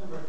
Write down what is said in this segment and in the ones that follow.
of America,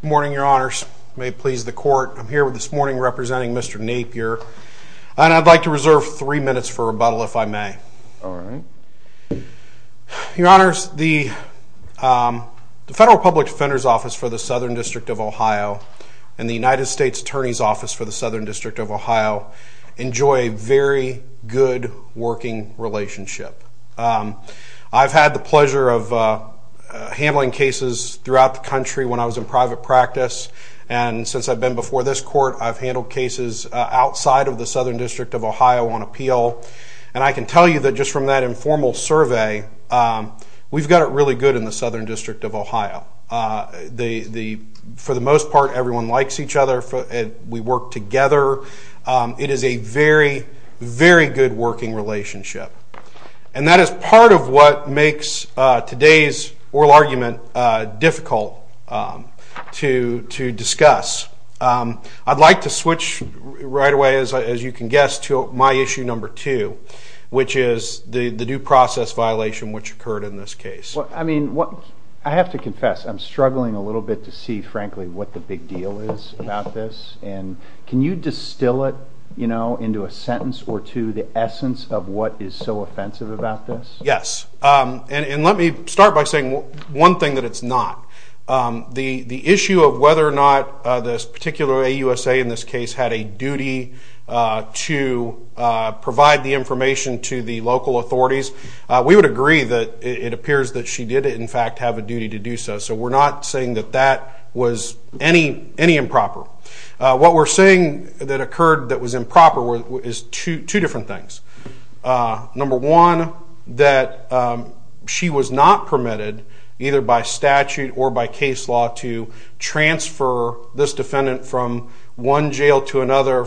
and I would like to see 50 minutes of silence, Mr. Shad. Good morning, your honors. May it please the court, I'm here this morning representing Mr. Napier, and I'd like to reserve three minutes for rebuttal, if I may. All right. Your honors, the Federal Public Defender's Office for the Southern District of Ohio and the United States Attorney's Office for the Southern District of Ohio enjoy a very good working relationship. I've had the pleasure of handling cases throughout the country when I was in private practice, and since I've been before this court, I've handled cases outside of the Southern District of Ohio on appeal. And I can tell you that just from that informal survey, we've got it really good in the Southern District of Ohio. For the most part, everyone likes each other. We work together. It is a very, very good working relationship. And that is part of what makes today's oral argument difficult to discuss. I'd like to switch right away, as you can guess, to my issue number two, which is the due process violation which occurred in this case. Well, I mean, I have to confess, I'm struggling a little bit to see, frankly, what the big deal is about this. And can you distill it, you know, into a sentence or two, the essence of what is so offensive about this? Yes. And let me start by saying one thing that it's not. The issue of whether or not this particular AUSA in this case had a duty to provide the information to the local authorities, we would agree that it appears that she did, in fact, have a duty to do so. So we're not saying that that was any improper. What we're saying that occurred that was improper is two different things. Number one, that she was not permitted, either by statute or by case law, to transfer this defendant from one jail to another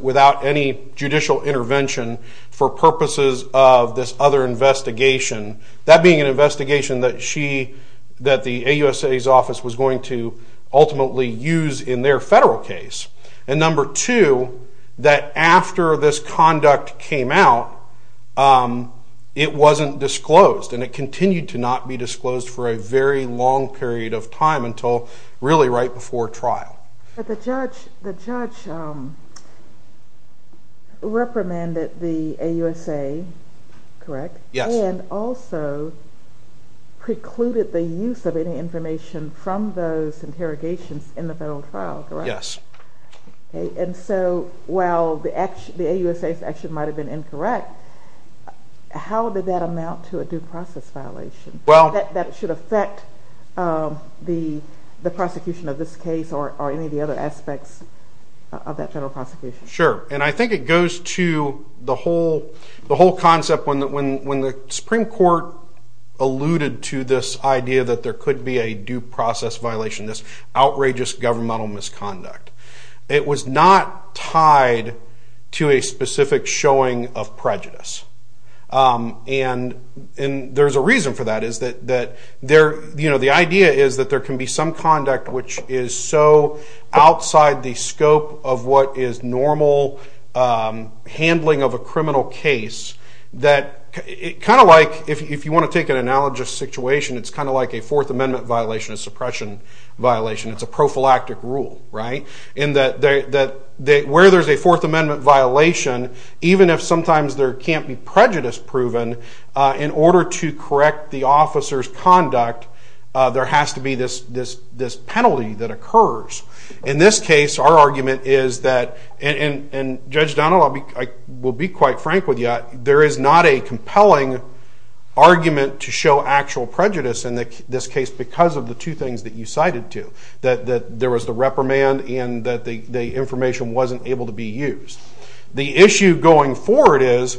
without any judicial intervention for purposes of this other investigation, that being an investigation that the AUSA's office was going to ultimately use in their federal case. And number two, that after this conduct came out, it wasn't disclosed, and it continued to not be disclosed for a very long period of time until really right before trial. But the judge reprimanded the AUSA, correct? Yes. And also precluded the use of any information from those interrogations in the federal trial, correct? Yes. And so while the AUSA's action might have been incorrect, how did that amount to a due process violation? That should affect the prosecution of this case or any of the other aspects of that general prosecution? Sure. And I think it goes to the whole concept when the Supreme Court alluded to this idea that there could be a due process violation, this outrageous governmental misconduct. It was not tied to a specific showing of prejudice. And there's a reason for that, is that the idea is that there can be some conduct which is so outside the scope of what is normal handling of a criminal case that kind of like if you want to take an analogous situation, it's kind of like a Fourth Amendment violation, a suppression violation. It's a prophylactic rule, right? And where there's a Fourth Amendment violation, even if sometimes there can't be prejudice proven, in order to correct the officer's conduct, there has to be this penalty that occurs. In this case, our argument is that, and Judge Donald, I will be quite frank with you, there is not a compelling argument to show actual prejudice in this case because of the two things that you cited to, that there was the reprimand and that the information wasn't able to be used. The issue going forward is,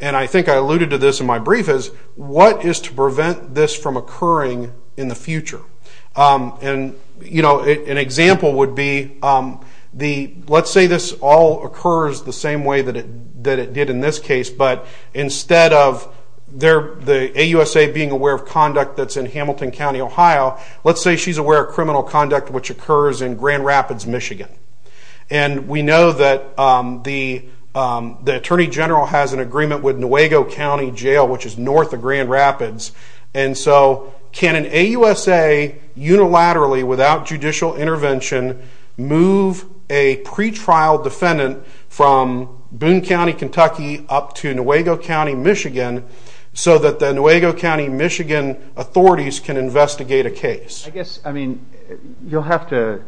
and I think I alluded to this in my brief, is what is to prevent this from occurring in the future? An example would be, let's say this all occurs the same way that it did in this case, but instead of the AUSA being aware of conduct that's in Hamilton County, Ohio, let's say she's aware of criminal conduct which occurs in Grand Rapids, Michigan. And we know that the Attorney General has an agreement with Nuevo County Jail, which is north of Grand Rapids. And so, can an AUSA, unilaterally, without judicial intervention, move a pretrial defendant from Boone County, Kentucky, up to Nuevo County, Michigan, so that the Nuevo County, Michigan authorities can investigate a case? I guess, I mean, you'll have to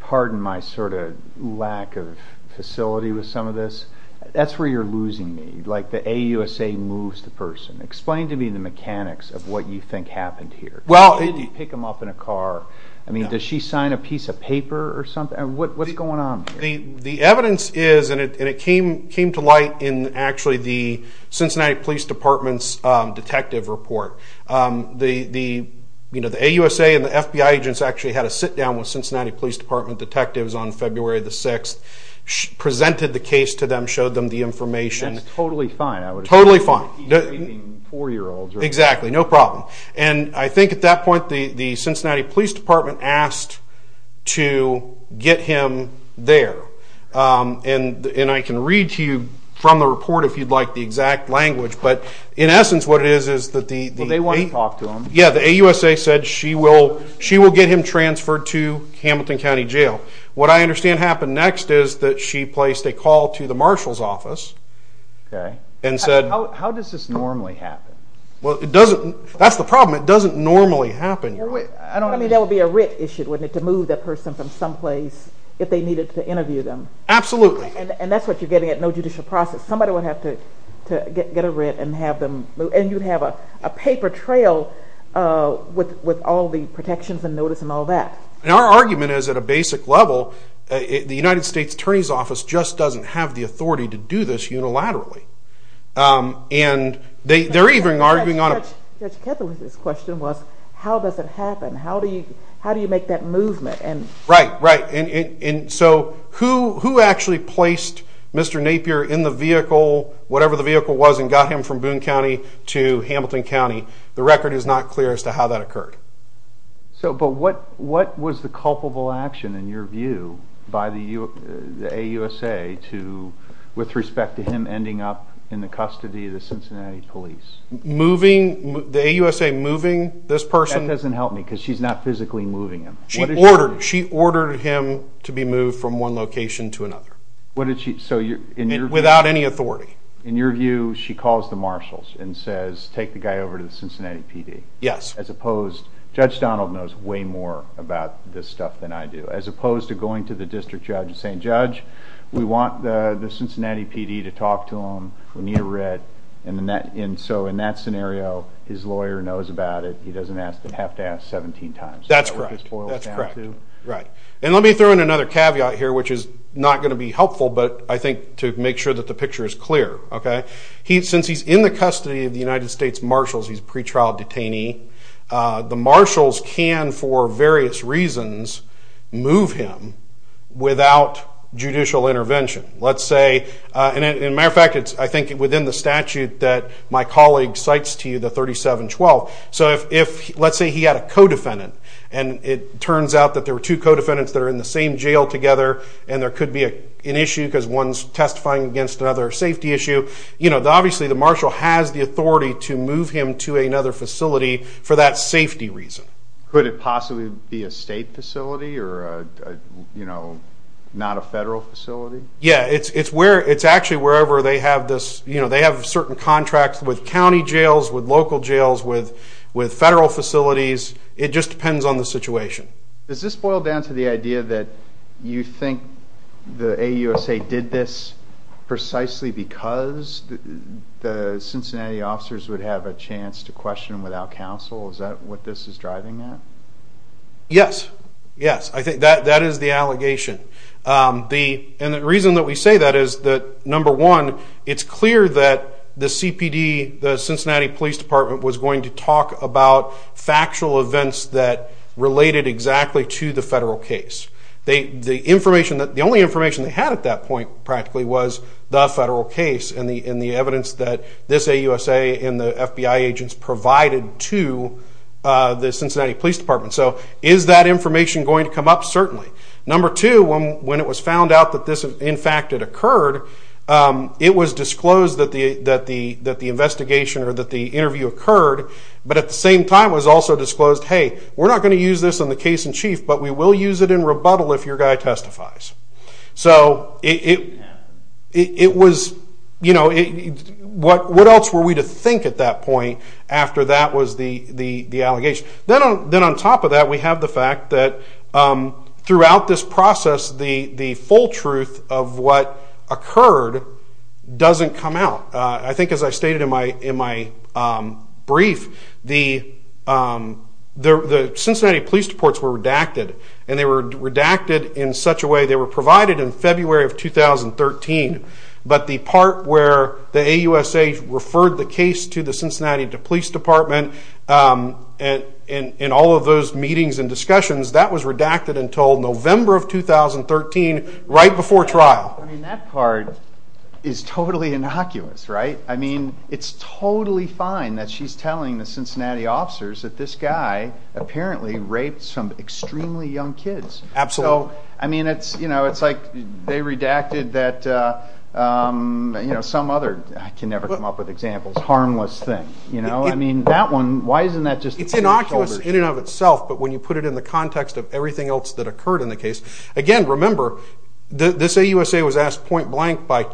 pardon my sort of lack of facility with some of this. That's where you're losing me. Like, the AUSA moves the person. Explain to me the mechanics of what you think happened here. Did she pick him up in a car? I mean, does she sign a piece of paper or something? What's going on here? The evidence is, and it came to light in, actually, the Cincinnati Police Department's detective report. The AUSA and the FBI agents actually had a sit-down with Cincinnati Police Department detectives on February the 6th, presented the case to them, showed them the information. That's totally fine. Totally fine. Four-year-olds. Exactly. No problem. And I think, at that point, the Cincinnati Police Department asked to get him there. And I can read to you from the report, if you'd like, the exact language. But, in essence, what it is, is that the AUSA said she will get him transferred to Hamilton County Jail. What I understand happened next is that she placed a call to the marshal's office and said— How does this normally happen? Well, it doesn't. That's the problem. It doesn't normally happen. I mean, that would be a writ issue, wouldn't it, to move that person from someplace if they needed to interview them? Absolutely. And that's what you're getting at, no judicial process. Somebody would have to get a writ and have them move. And you'd have a paper trail with all the protections and notice and all that. And our argument is, at a basic level, the United States Attorney's Office just doesn't have the authority to do this unilaterally. And they're even arguing on a— Judge Kettleman's question was, how does it happen? How do you make that movement? Right, right. And so who actually placed Mr. Napier in the vehicle, whatever the vehicle was, and got him from Boone County to Hamilton County? The record is not clear as to how that occurred. But what was the culpable action, in your view, by the AUSA with respect to him ending up in the custody of the Cincinnati police? The AUSA moving this person? That doesn't help me because she's not physically moving him. She ordered him to be moved from one location to another. Without any authority. In your view, she calls the marshals and says, take the guy over to the Cincinnati PD? Yes. As opposed—Judge Donald knows way more about this stuff than I do. As opposed to going to the district judge and saying, Judge, we want the Cincinnati PD to talk to him. We need a writ. And so in that scenario, his lawyer knows about it. He doesn't have to ask 17 times. That's correct. And let me throw in another caveat here, which is not going to be helpful, but I think to make sure that the picture is clear. Since he's in the custody of the United States marshals, he's a pretrial detainee. The marshals can, for various reasons, move him without judicial intervention. Let's say—and as a matter of fact, I think it's within the statute that my colleague cites to you, the 3712. So let's say he had a co-defendant, and it turns out that there were two co-defendants that are in the same jail together. And there could be an issue because one's testifying against another safety issue. Obviously, the marshal has the authority to move him to another facility for that safety reason. Could it possibly be a state facility or not a federal facility? Yeah. It's actually wherever they have this—they have certain contracts with county jails, with local jails, with federal facilities. It just depends on the situation. Does this boil down to the idea that you think the AUSA did this precisely because the Cincinnati officers would have a chance to question without counsel? Is that what this is driving at? Yes. Yes. I think that is the allegation. And the reason that we say that is that, number one, it's clear that the CPD, the Cincinnati Police Department, was going to talk about factual events that related exactly to the federal case. The only information they had at that point, practically, was the federal case and the evidence that this AUSA and the FBI agents provided to the Cincinnati Police Department. So is that information going to come up? Certainly. Number two, when it was found out that this, in fact, had occurred, it was disclosed that the investigation or that the interview occurred, but at the same time was also disclosed, hey, we're not going to use this in the case in chief, but we will use it in rebuttal if your guy testifies. So it was—what else were we to think at that point after that was the allegation? Then on top of that, we have the fact that throughout this process, the full truth of what occurred doesn't come out. I think, as I stated in my brief, the Cincinnati Police reports were redacted, and they were redacted in such a way, but the part where the AUSA referred the case to the Cincinnati Police Department in all of those meetings and discussions, that was redacted until November of 2013, right before trial. I mean, that part is totally innocuous, right? I mean, it's totally fine that she's telling the Cincinnati officers that this guy apparently raped some extremely young kids. Absolutely. I mean, it's like they redacted that some other—I can never come up with examples—harmless thing. I mean, that one, why isn't that just— It's innocuous in and of itself, but when you put it in the context of everything else that occurred in the case— again, remember, this AUSA was asked point blank by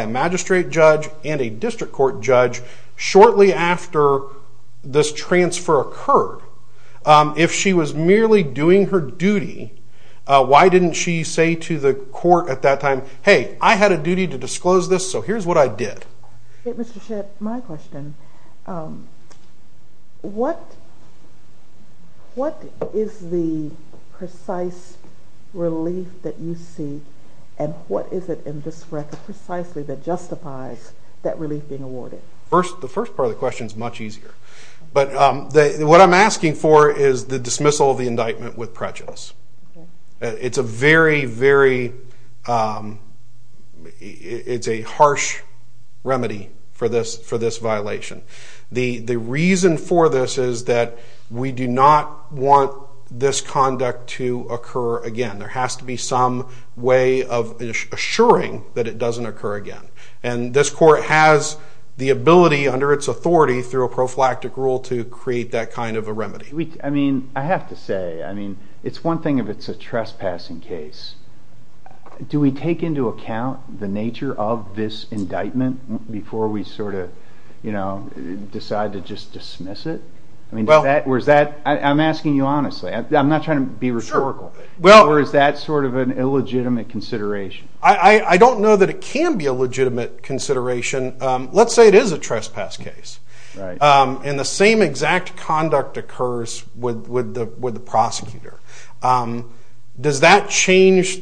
a magistrate judge and a district court judge shortly after this transfer occurred. If she was merely doing her duty, why didn't she say to the court at that time, hey, I had a duty to disclose this, so here's what I did. Mr. Shedd, my question. What is the precise relief that you see, and what is it in this record precisely that justifies that relief being awarded? The first part of the question is much easier. But what I'm asking for is the dismissal of the indictment with prejudice. It's a very, very—it's a harsh remedy for this violation. The reason for this is that we do not want this conduct to occur again. There has to be some way of assuring that it doesn't occur again. And this court has the ability under its authority through a prophylactic rule to create that kind of a remedy. I have to say, it's one thing if it's a trespassing case. Do we take into account the nature of this indictment before we decide to just dismiss it? I'm asking you honestly. I'm not trying to be rhetorical. Or is that sort of an illegitimate consideration? I don't know that it can be a legitimate consideration. Let's say it is a trespass case, and the same exact conduct occurs with the prosecutor. Does that change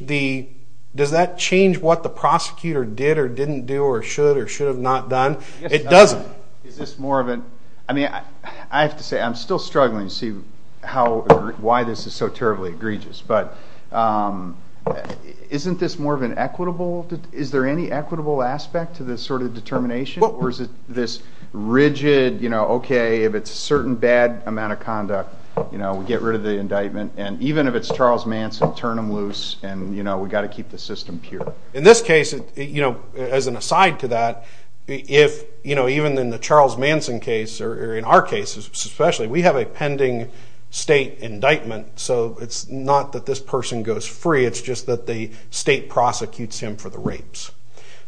what the prosecutor did or didn't do or should or should have not done? It doesn't. Is this more of an—I mean, I have to say, I'm still struggling to see why this is so terribly egregious. But isn't this more of an equitable—is there any equitable aspect to this sort of determination? Or is it this rigid, OK, if it's a certain bad amount of conduct, we get rid of the indictment. And even if it's Charles Manson, turn him loose, and we've got to keep the system pure. In this case, as an aside to that, even in the Charles Manson case or in our cases especially, we have a pending state indictment, so it's not that this person goes free. It's just that the state prosecutes him for the rapes.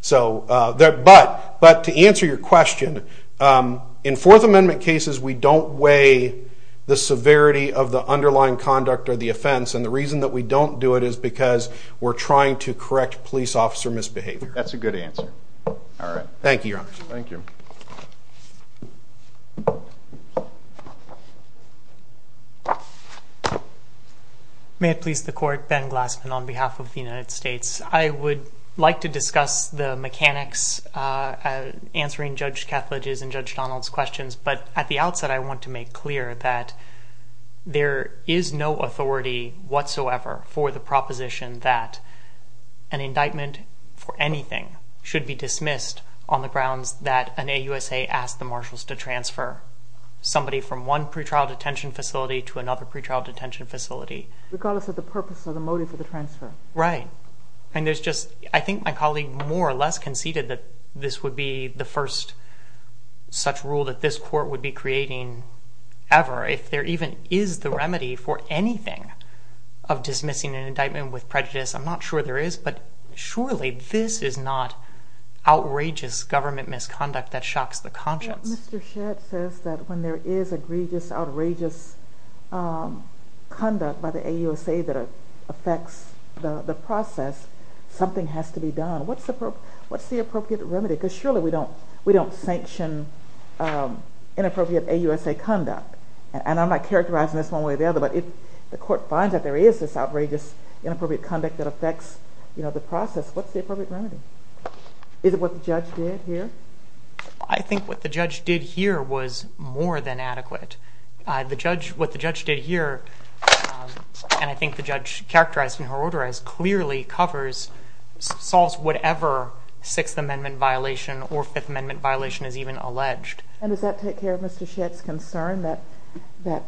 But to answer your question, in Fourth Amendment cases, we don't weigh the severity of the underlying conduct or the offense. And the reason that we don't do it is because we're trying to correct police officer misbehavior. That's a good answer. All right. Thank you, Your Honor. Thank you. May it please the Court. Ben Glassman on behalf of the United States. I would like to discuss the mechanics answering Judge Kethledge's and Judge Donald's questions. But at the outset, I want to make clear that there is no authority whatsoever for the proposition that an indictment for anything should be dismissed on the grounds that an AUSA asked the marshals to transfer somebody from one pretrial detention facility to another pretrial detention facility. Regardless of the purpose or the motive for the transfer. Right. I think my colleague more or less conceded that this would be the first such rule that this Court would be creating ever. If there even is the remedy for anything of dismissing an indictment with prejudice, I'm not sure there is, but surely this is not outrageous government misconduct that shocks the conscience. Mr. Shedd says that when there is egregious, outrageous conduct by the AUSA that affects the process, something has to be done. What's the appropriate remedy? Because surely we don't sanction inappropriate AUSA conduct. And I'm not characterizing this one way or the other, but if the Court finds that there is this outrageous, inappropriate conduct that affects the process, what's the appropriate remedy? Is it what the Judge did here? I think what the Judge did here was more than adequate. What the Judge did here, and I think the Judge characterized in her order as clearly covers, solves whatever Sixth Amendment violation or Fifth Amendment violation is even alleged. And does that take care of Mr. Shedd's concern that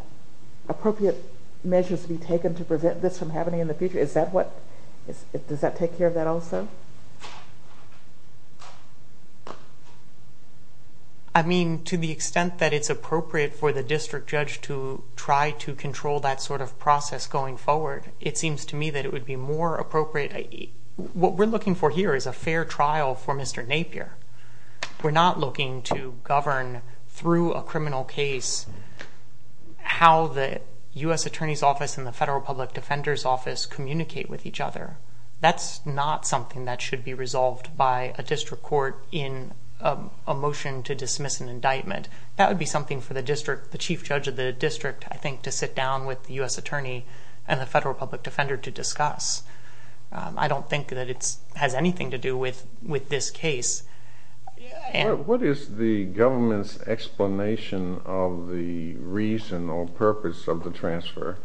appropriate measures be taken to prevent this from happening in the future? Does that take care of that also? I mean, to the extent that it's appropriate for the District Judge to try to control that sort of process going forward, it seems to me that it would be more appropriate. What we're looking for here is a fair trial for Mr. Napier. We're not looking to govern through a criminal case how the U.S. Attorney's Office and the Federal Public Defender's Office communicate with each other. That's not something that should be resolved by a District Court in a motion to dismiss an indictment. That would be something for the Chief Judge of the District, I think, to sit down with the U.S. Attorney and the Federal Public Defender to discuss. I don't think that it has anything to do with this case. What is the government's explanation of the reason or purpose of the transfer?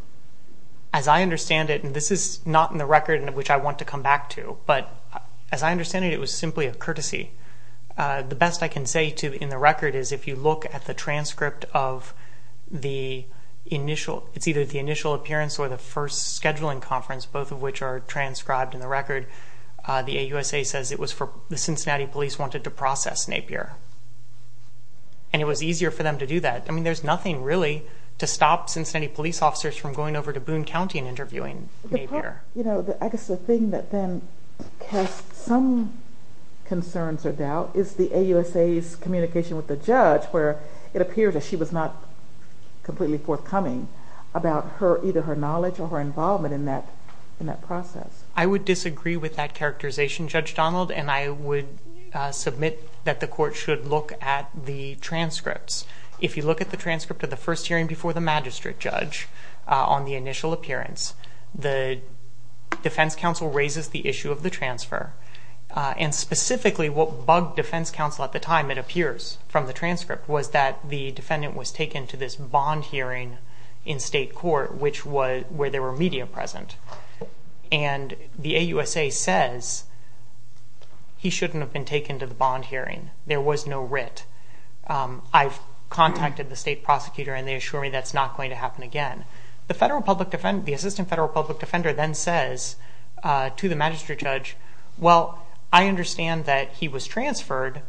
As I understand it, and this is not in the record which I want to come back to, but as I understand it, it was simply a courtesy. The best I can say in the record is if you look at the transcript of the initial appearance or the first scheduling conference, both of which are transcribed in the record, the AUSA says it was for the Cincinnati Police wanted to process Napier, and it was easier for them to do that. I mean, there's nothing really to stop Cincinnati Police officers from going over to Boone County and interviewing Napier. I guess the thing that then casts some concerns or doubt is the AUSA's communication with the judge where it appears that she was not completely forthcoming about either her knowledge or her involvement in that process. I would disagree with that characterization, Judge Donald, and I would submit that the court should look at the transcripts. If you look at the transcript of the first hearing before the magistrate judge on the initial appearance, the defense counsel raises the issue of the transfer, and specifically what bugged defense counsel at the time, it appears from the transcript, was that the defendant was taken to this bond hearing in state court where there were media present, and the AUSA says he shouldn't have been taken to the bond hearing. There was no writ. I've contacted the state prosecutor, and they assure me that's not going to happen again. The assistant federal public defender then says to the magistrate judge, well, I understand that he was transferred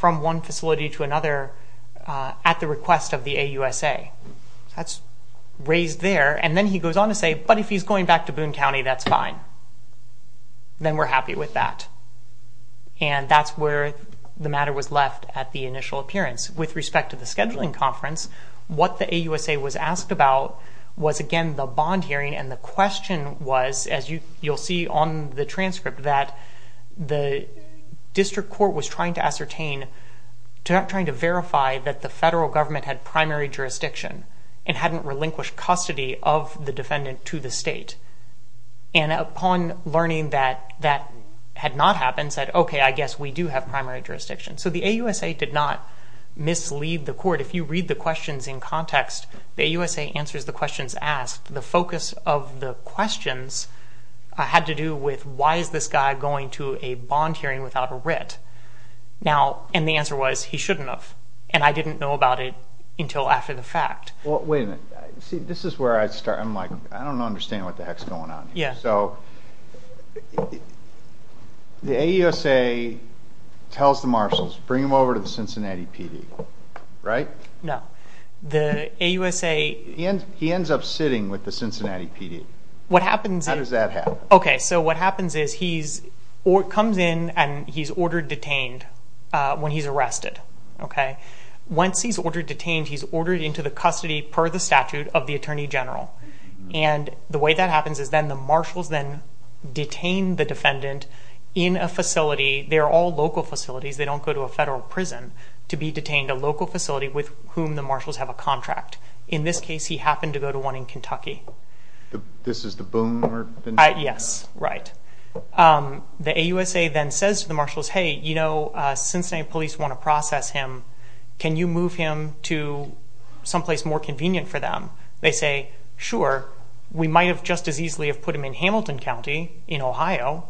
from one facility to another at the request of the AUSA. That's raised there, and then he goes on to say, but if he's going back to Boone County, that's fine. Then we're happy with that. That's where the matter was left at the initial appearance. With respect to the scheduling conference, what the AUSA was asked about was, again, the bond hearing, and the question was, as you'll see on the transcript, that the district court was trying to ascertain, trying to verify that the federal government had primary jurisdiction and hadn't relinquished custody of the defendant to the state. Upon learning that that had not happened, said, okay, I guess we do have primary jurisdiction. The AUSA did not mislead the court. If you read the questions in context, the AUSA answers the questions asked. The focus of the questions had to do with, why is this guy going to a bond hearing without a writ? The answer was, he shouldn't have, and I didn't know about it until after the fact. Wait a minute. See, this is where I start. I'm like, I don't understand what the heck's going on here. Yeah. So the AUSA tells the marshals, bring him over to the Cincinnati PD, right? No. The AUSA- He ends up sitting with the Cincinnati PD. What happens- How does that happen? Okay, so what happens is he comes in and he's ordered detained when he's arrested. Once he's ordered detained, he's ordered into the custody per the statute of the attorney general. And the way that happens is then the marshals then detain the defendant in a facility. They're all local facilities. They don't go to a federal prison to be detained. A local facility with whom the marshals have a contract. In this case, he happened to go to one in Kentucky. This is the boomer? Yes, right. The AUSA then says to the marshals, hey, you know, Cincinnati police want to process him. Can you move him to someplace more convenient for them? They say, sure. We might have just as easily put him in Hamilton County in Ohio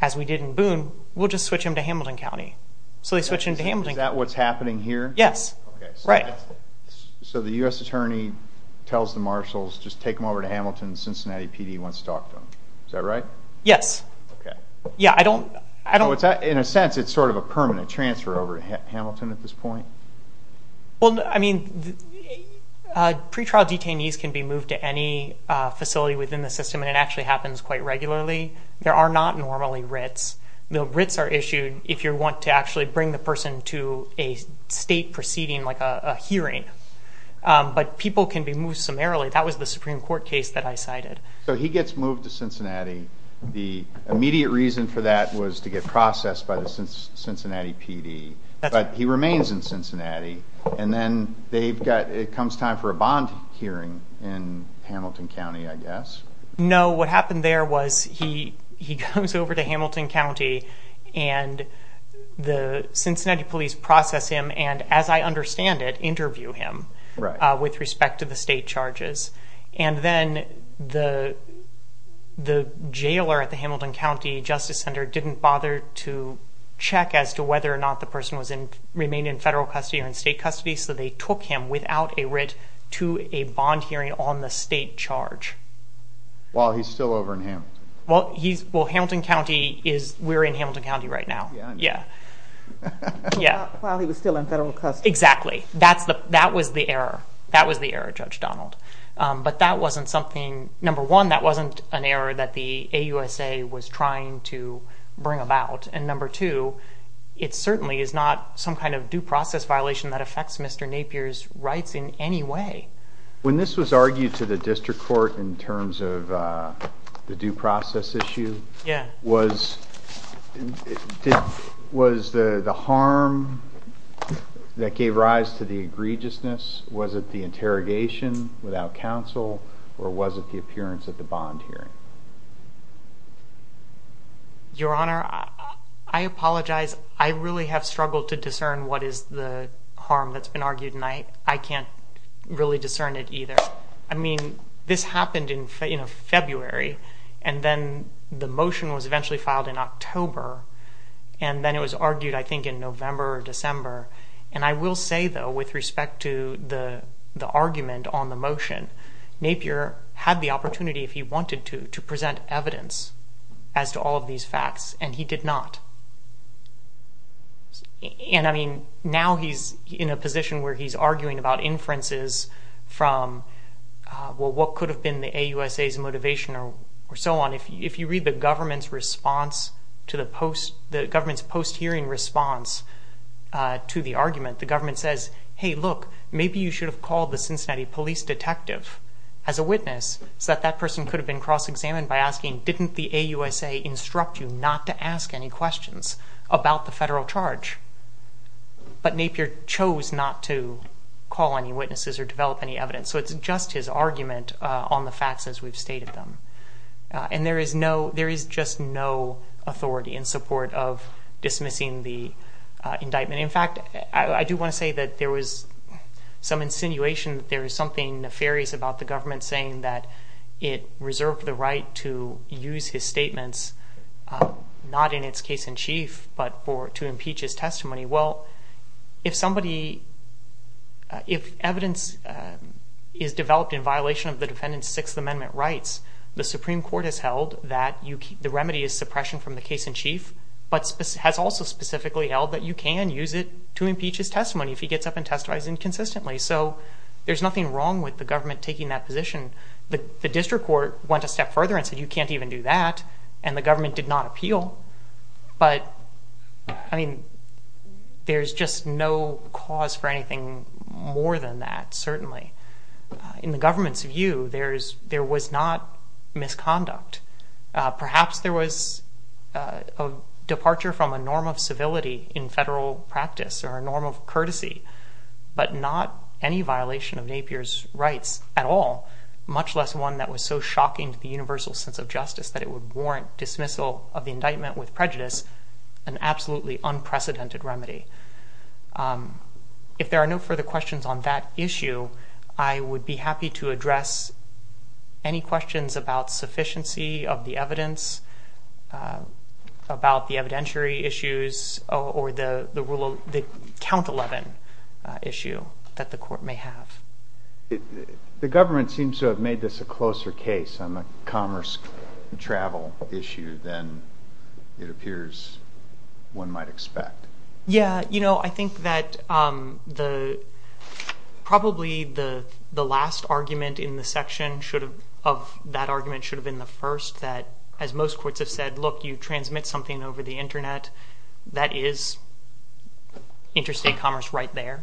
as we did in Boone. We'll just switch him to Hamilton County. So they switch him to Hamilton County. Is that what's happening here? Yes. Right. So the U.S. attorney tells the marshals, just take him over to Hamilton. Cincinnati PD wants to talk to him. Is that right? Yes. Okay. Yeah, I don't... In a sense, it's sort of a permanent transfer over to Hamilton at this point? Well, I mean, pretrial detainees can be moved to any facility within the system, and it actually happens quite regularly. There are not normally writs. The writs are issued if you want to actually bring the person to a state proceeding, like a hearing. But people can be moved summarily. That was the Supreme Court case that I cited. So he gets moved to Cincinnati. The immediate reason for that was to get processed by the Cincinnati PD. But he remains in Cincinnati, and then they've got... It comes time for a bond hearing in Hamilton County, I guess. No. What happened there was he comes over to Hamilton County, and the Cincinnati police process him and, as I understand it, interview him... Right. ...with respect to the state charges. And then the jailer at the Hamilton County Justice Center didn't bother to check as to whether or not the person remained in federal custody or in state custody, so they took him without a writ to a bond hearing on the state charge. While he's still over in Hamilton. Well, Hamilton County is... We're in Hamilton County right now. Yeah. Yeah. While he was still in federal custody. Exactly. That was the error. But that wasn't something... Number one, that wasn't an error that the AUSA was trying to bring about. And number two, it certainly is not some kind of due process violation that affects Mr. Napier's rights in any way. When this was argued to the district court in terms of the due process issue... Yeah. ...was the harm that gave rise to the egregiousness? Was it the interrogation without counsel, or was it the appearance at the bond hearing? Your Honor, I apologize. I really have struggled to discern what is the harm that's been argued, and I can't really discern it either. I mean, this happened in February, and then the motion was eventually filed in October, and then it was argued, I think, in November or December. And I will say, though, with respect to the argument on the motion, Napier had the opportunity, if he wanted to, to present evidence as to all of these facts, and he did not. And, I mean, now he's in a position where he's arguing about inferences from, well, what could have been the AUSA's motivation or so on. If you read the government's post-hearing response to the argument, the government says, hey, look, maybe you should have called the Cincinnati police detective as a witness so that that person could have been cross-examined by asking, didn't the AUSA instruct you not to ask any questions about the federal charge? But Napier chose not to call any witnesses or develop any evidence. So it's just his argument on the facts as we've stated them. And there is just no authority in support of dismissing the indictment. In fact, I do want to say that there was some insinuation that there was something nefarious about the government saying that it reserved the right to use his statements, not in its case in chief, but to impeach his testimony. Well, if evidence is developed in violation of the defendant's Sixth Amendment rights, the Supreme Court has held that the remedy is suppression from the case in chief, but has also specifically held that you can use it to impeach his testimony if he gets up and testifies inconsistently. So there's nothing wrong with the government taking that position. The district court went a step further and said you can't even do that, and the government did not appeal. But, I mean, there's just no cause for anything more than that, certainly. In the government's view, there was not misconduct. Perhaps there was a departure from a norm of civility in federal practice or a norm of courtesy, but not any violation of Napier's rights at all, much less one that was so shocking to the universal sense of justice that it would warrant dismissal of the indictment with prejudice, an absolutely unprecedented remedy. If there are no further questions on that issue, I would be happy to address any questions about sufficiency of the evidence, about the evidentiary issues, or the count 11 issue that the court may have. The government seems to have made this a closer case on the commerce travel issue than it appears one might expect. Yeah, you know, I think that probably the last argument in the section of that argument should have been the first, that, as most courts have said, look, you transmit something over the Internet, that is interstate commerce right there.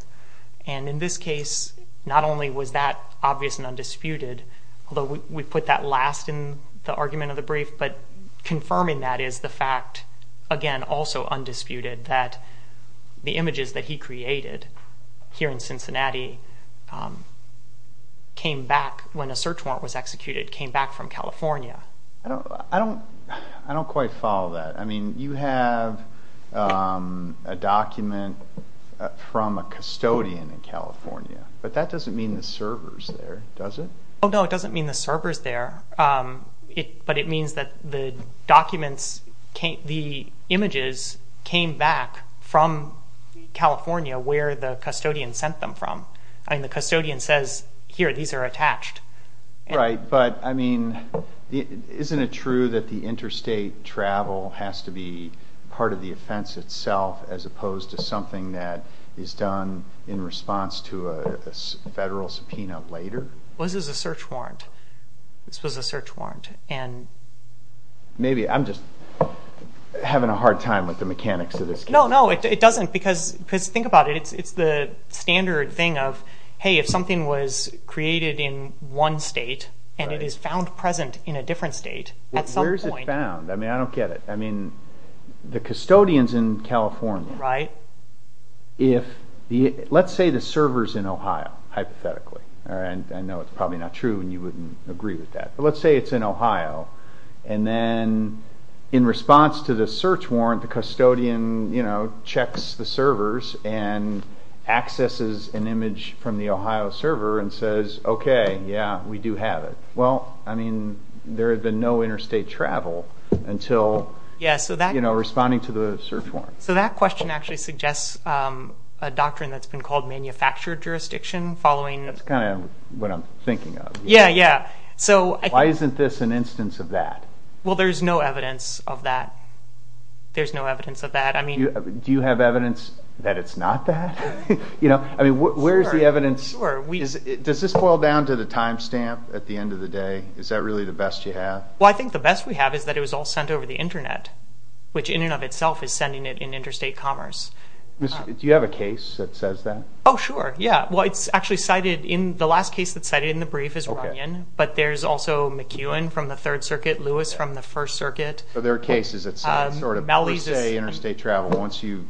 And in this case, not only was that obvious and undisputed, although we put that last in the argument of the brief, but confirming that is the fact, again, also undisputed, that the images that he created here in Cincinnati came back, when a search warrant was executed, came back from California. I don't quite follow that. I mean, you have a document from a custodian in California, but that doesn't mean the server is there, does it? No, it doesn't mean the server is there, but it means that the documents, the images came back from California where the custodian sent them from. I mean, the custodian says, here, these are attached. Right, but, I mean, isn't it true that the interstate travel has to be part of the offense itself as opposed to something that is done in response to a federal subpoena later? Well, this is a search warrant. This was a search warrant. Maybe I'm just having a hard time with the mechanics of this case. No, no, it doesn't, because think about it. It's the standard thing of, hey, if something was created in one state and it is found present in a different state at some point. Where is it found? I mean, I don't get it. I mean, the custodian's in California. Right. Let's say the server's in Ohio, hypothetically. I know it's probably not true and you wouldn't agree with that, but let's say it's in Ohio, and then in response to the search warrant, the custodian checks the servers and accesses an image from the Ohio server and says, okay, yeah, we do have it. Well, I mean, there had been no interstate travel until responding to the search warrant. So that question actually suggests a doctrine that's been called manufactured jurisdiction following... That's kind of what I'm thinking of. Yeah, yeah. Why isn't this an instance of that? Well, there's no evidence of that. There's no evidence of that. Do you have evidence that it's not that? I mean, where is the evidence? Does this boil down to the time stamp at the end of the day? Is that really the best you have? Well, I think the best we have is that it was all sent over the Internet, which in and of itself is sending it in interstate commerce. Do you have a case that says that? Oh, sure, yeah. Well, it's actually cited in the last case that's cited in the brief is Runyon, but there's also McEwen from the Third Circuit, Lewis from the First Circuit. So there are cases that say sort of per se interstate travel once you've...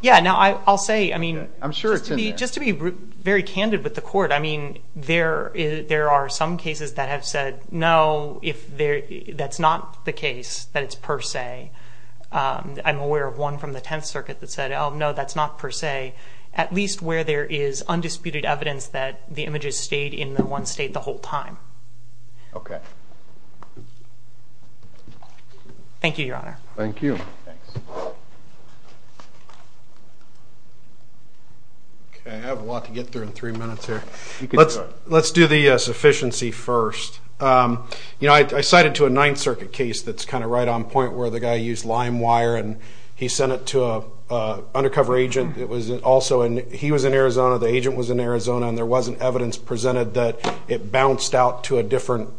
Yeah, now I'll say, I mean... I'm sure it's in there. Just to be very candid with the court, I mean, there are some cases that have said, no, that's not the case, that it's per se. I'm aware of one from the Tenth Circuit that said, oh, no, that's not per se, at least where there is undisputed evidence that the images stayed in the one state the whole time. Okay. Thank you, Your Honor. Thank you. Thanks. Okay, I have a lot to get through in three minutes here. You can go ahead. Let's do the sufficiency first. You know, I cited to a Ninth Circuit case that's kind of right on point where the guy used lime wire and he sent it to an undercover agent. He was in Arizona, the agent was in Arizona, and there wasn't evidence presented that it bounced out to a different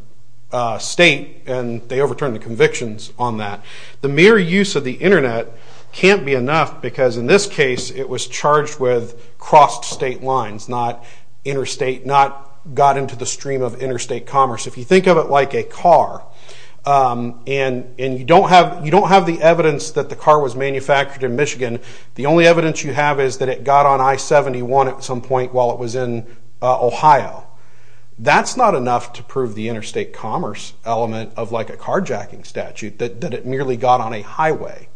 state, and they overturned the convictions on that. The mere use of the Internet can't be enough because, in this case, it was charged with crossed state lines, not interstate, not got into the stream of interstate commerce. If you think of it like a car and you don't have the evidence that the car was manufactured in Michigan, the only evidence you have is that it got on I-71 at some point while it was in Ohio. That's not enough to prove the interstate commerce element of like a carjacking statute, that it merely got on a highway.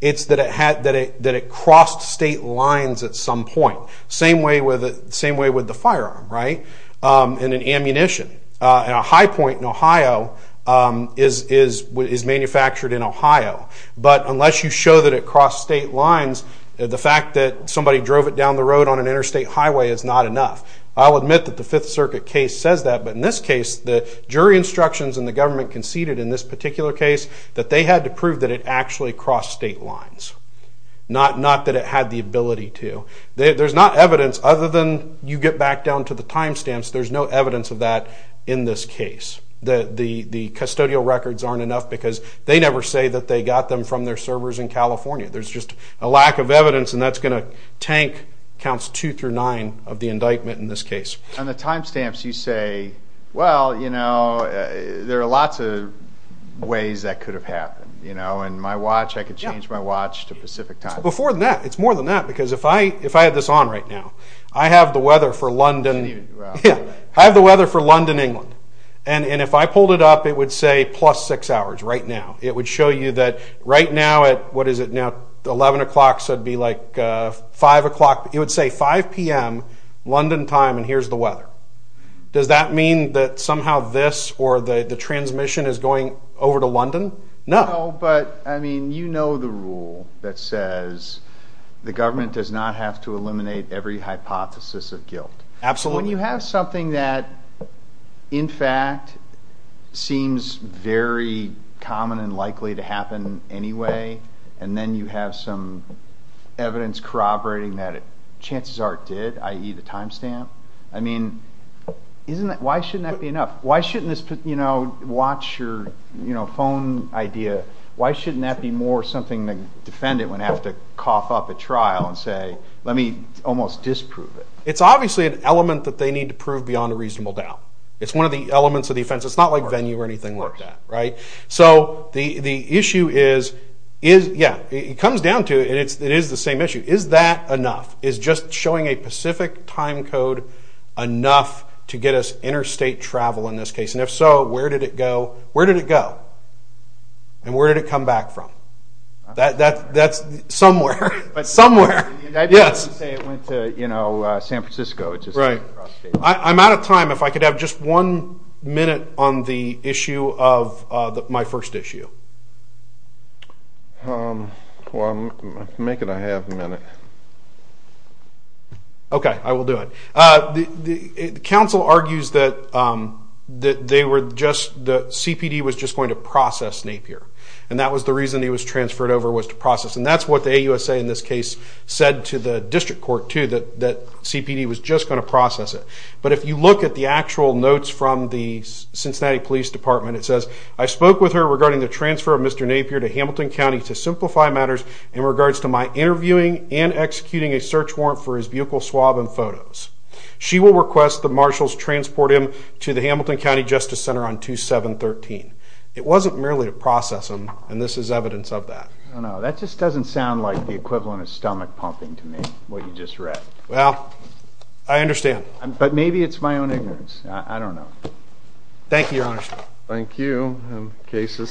It's that it crossed state lines at some point, same way with the firearm, right, and an ammunition. And a high point in Ohio is manufactured in Ohio. But unless you show that it crossed state lines, the fact that somebody drove it down the road on an interstate highway is not enough. I'll admit that the Fifth Circuit case says that, but in this case, the jury instructions and the government conceded in this particular case that they had to prove that it actually crossed state lines, not that it had the ability to. There's not evidence other than you get back down to the timestamps. There's no evidence of that in this case. The custodial records aren't enough because they never say that they got them from their servers in California. There's just a lack of evidence, and that's going to tank counts 2 through 9 of the indictment in this case. On the timestamps, you say, well, you know, there are lots of ways that could have happened. You know, in my watch, I could change my watch to Pacific time. Before that, it's more than that, because if I had this on right now, I have the weather for London. I have the weather for London, England. And if I pulled it up, it would say plus 6 hours right now. It would show you that right now at, what is it now, 11 o'clock, so it would be like 5 o'clock. It would say 5 p.m. London time, and here's the weather. Does that mean that somehow this or the transmission is going over to London? No. No, but, I mean, you know the rule that says the government does not have to eliminate every hypothesis of guilt. Absolutely. When you have something that, in fact, seems very common and likely to happen anyway, and then you have some evidence corroborating that chances are it did, i.e. the timestamp. I mean, why shouldn't that be enough? Why shouldn't this, you know, watch your phone idea, why shouldn't that be more something the defendant would have to cough up at trial and say, let me almost disprove it? It's obviously an element that they need to prove beyond a reasonable doubt. It's one of the elements of the offense. It's not like venue or anything like that, right? So the issue is, yeah, it comes down to it, and it is the same issue. Is that enough? Is just showing a specific time code enough to get us interstate travel in this case? And if so, where did it go? Where did it go? And where did it come back from? That's somewhere. Somewhere. Yes. It went to, you know, San Francisco. Right. I'm out of time. If I could have just one minute on the issue of my first issue. Well, make it a half minute. Okay, I will do it. The counsel argues that they were just the CPD was just going to process Napier, and that was the reason he was transferred over was to process, and that's what the AUSA in this case said to the district court, too, that CPD was just going to process it. But if you look at the actual notes from the Cincinnati Police Department, it says, I spoke with her regarding the transfer of Mr. Napier to Hamilton County to simplify matters in regards to my interviewing and executing a search warrant for his vehicle swab and photos. She will request the marshals transport him to the Hamilton County Justice Center on 2713. It wasn't merely to process him, and this is evidence of that. I don't know. That just doesn't sound like the equivalent of stomach pumping to me, what you just read. Well, I understand. But maybe it's my own ignorance. I don't know. Thank you, Your Honor. Thank you. The case is submitted.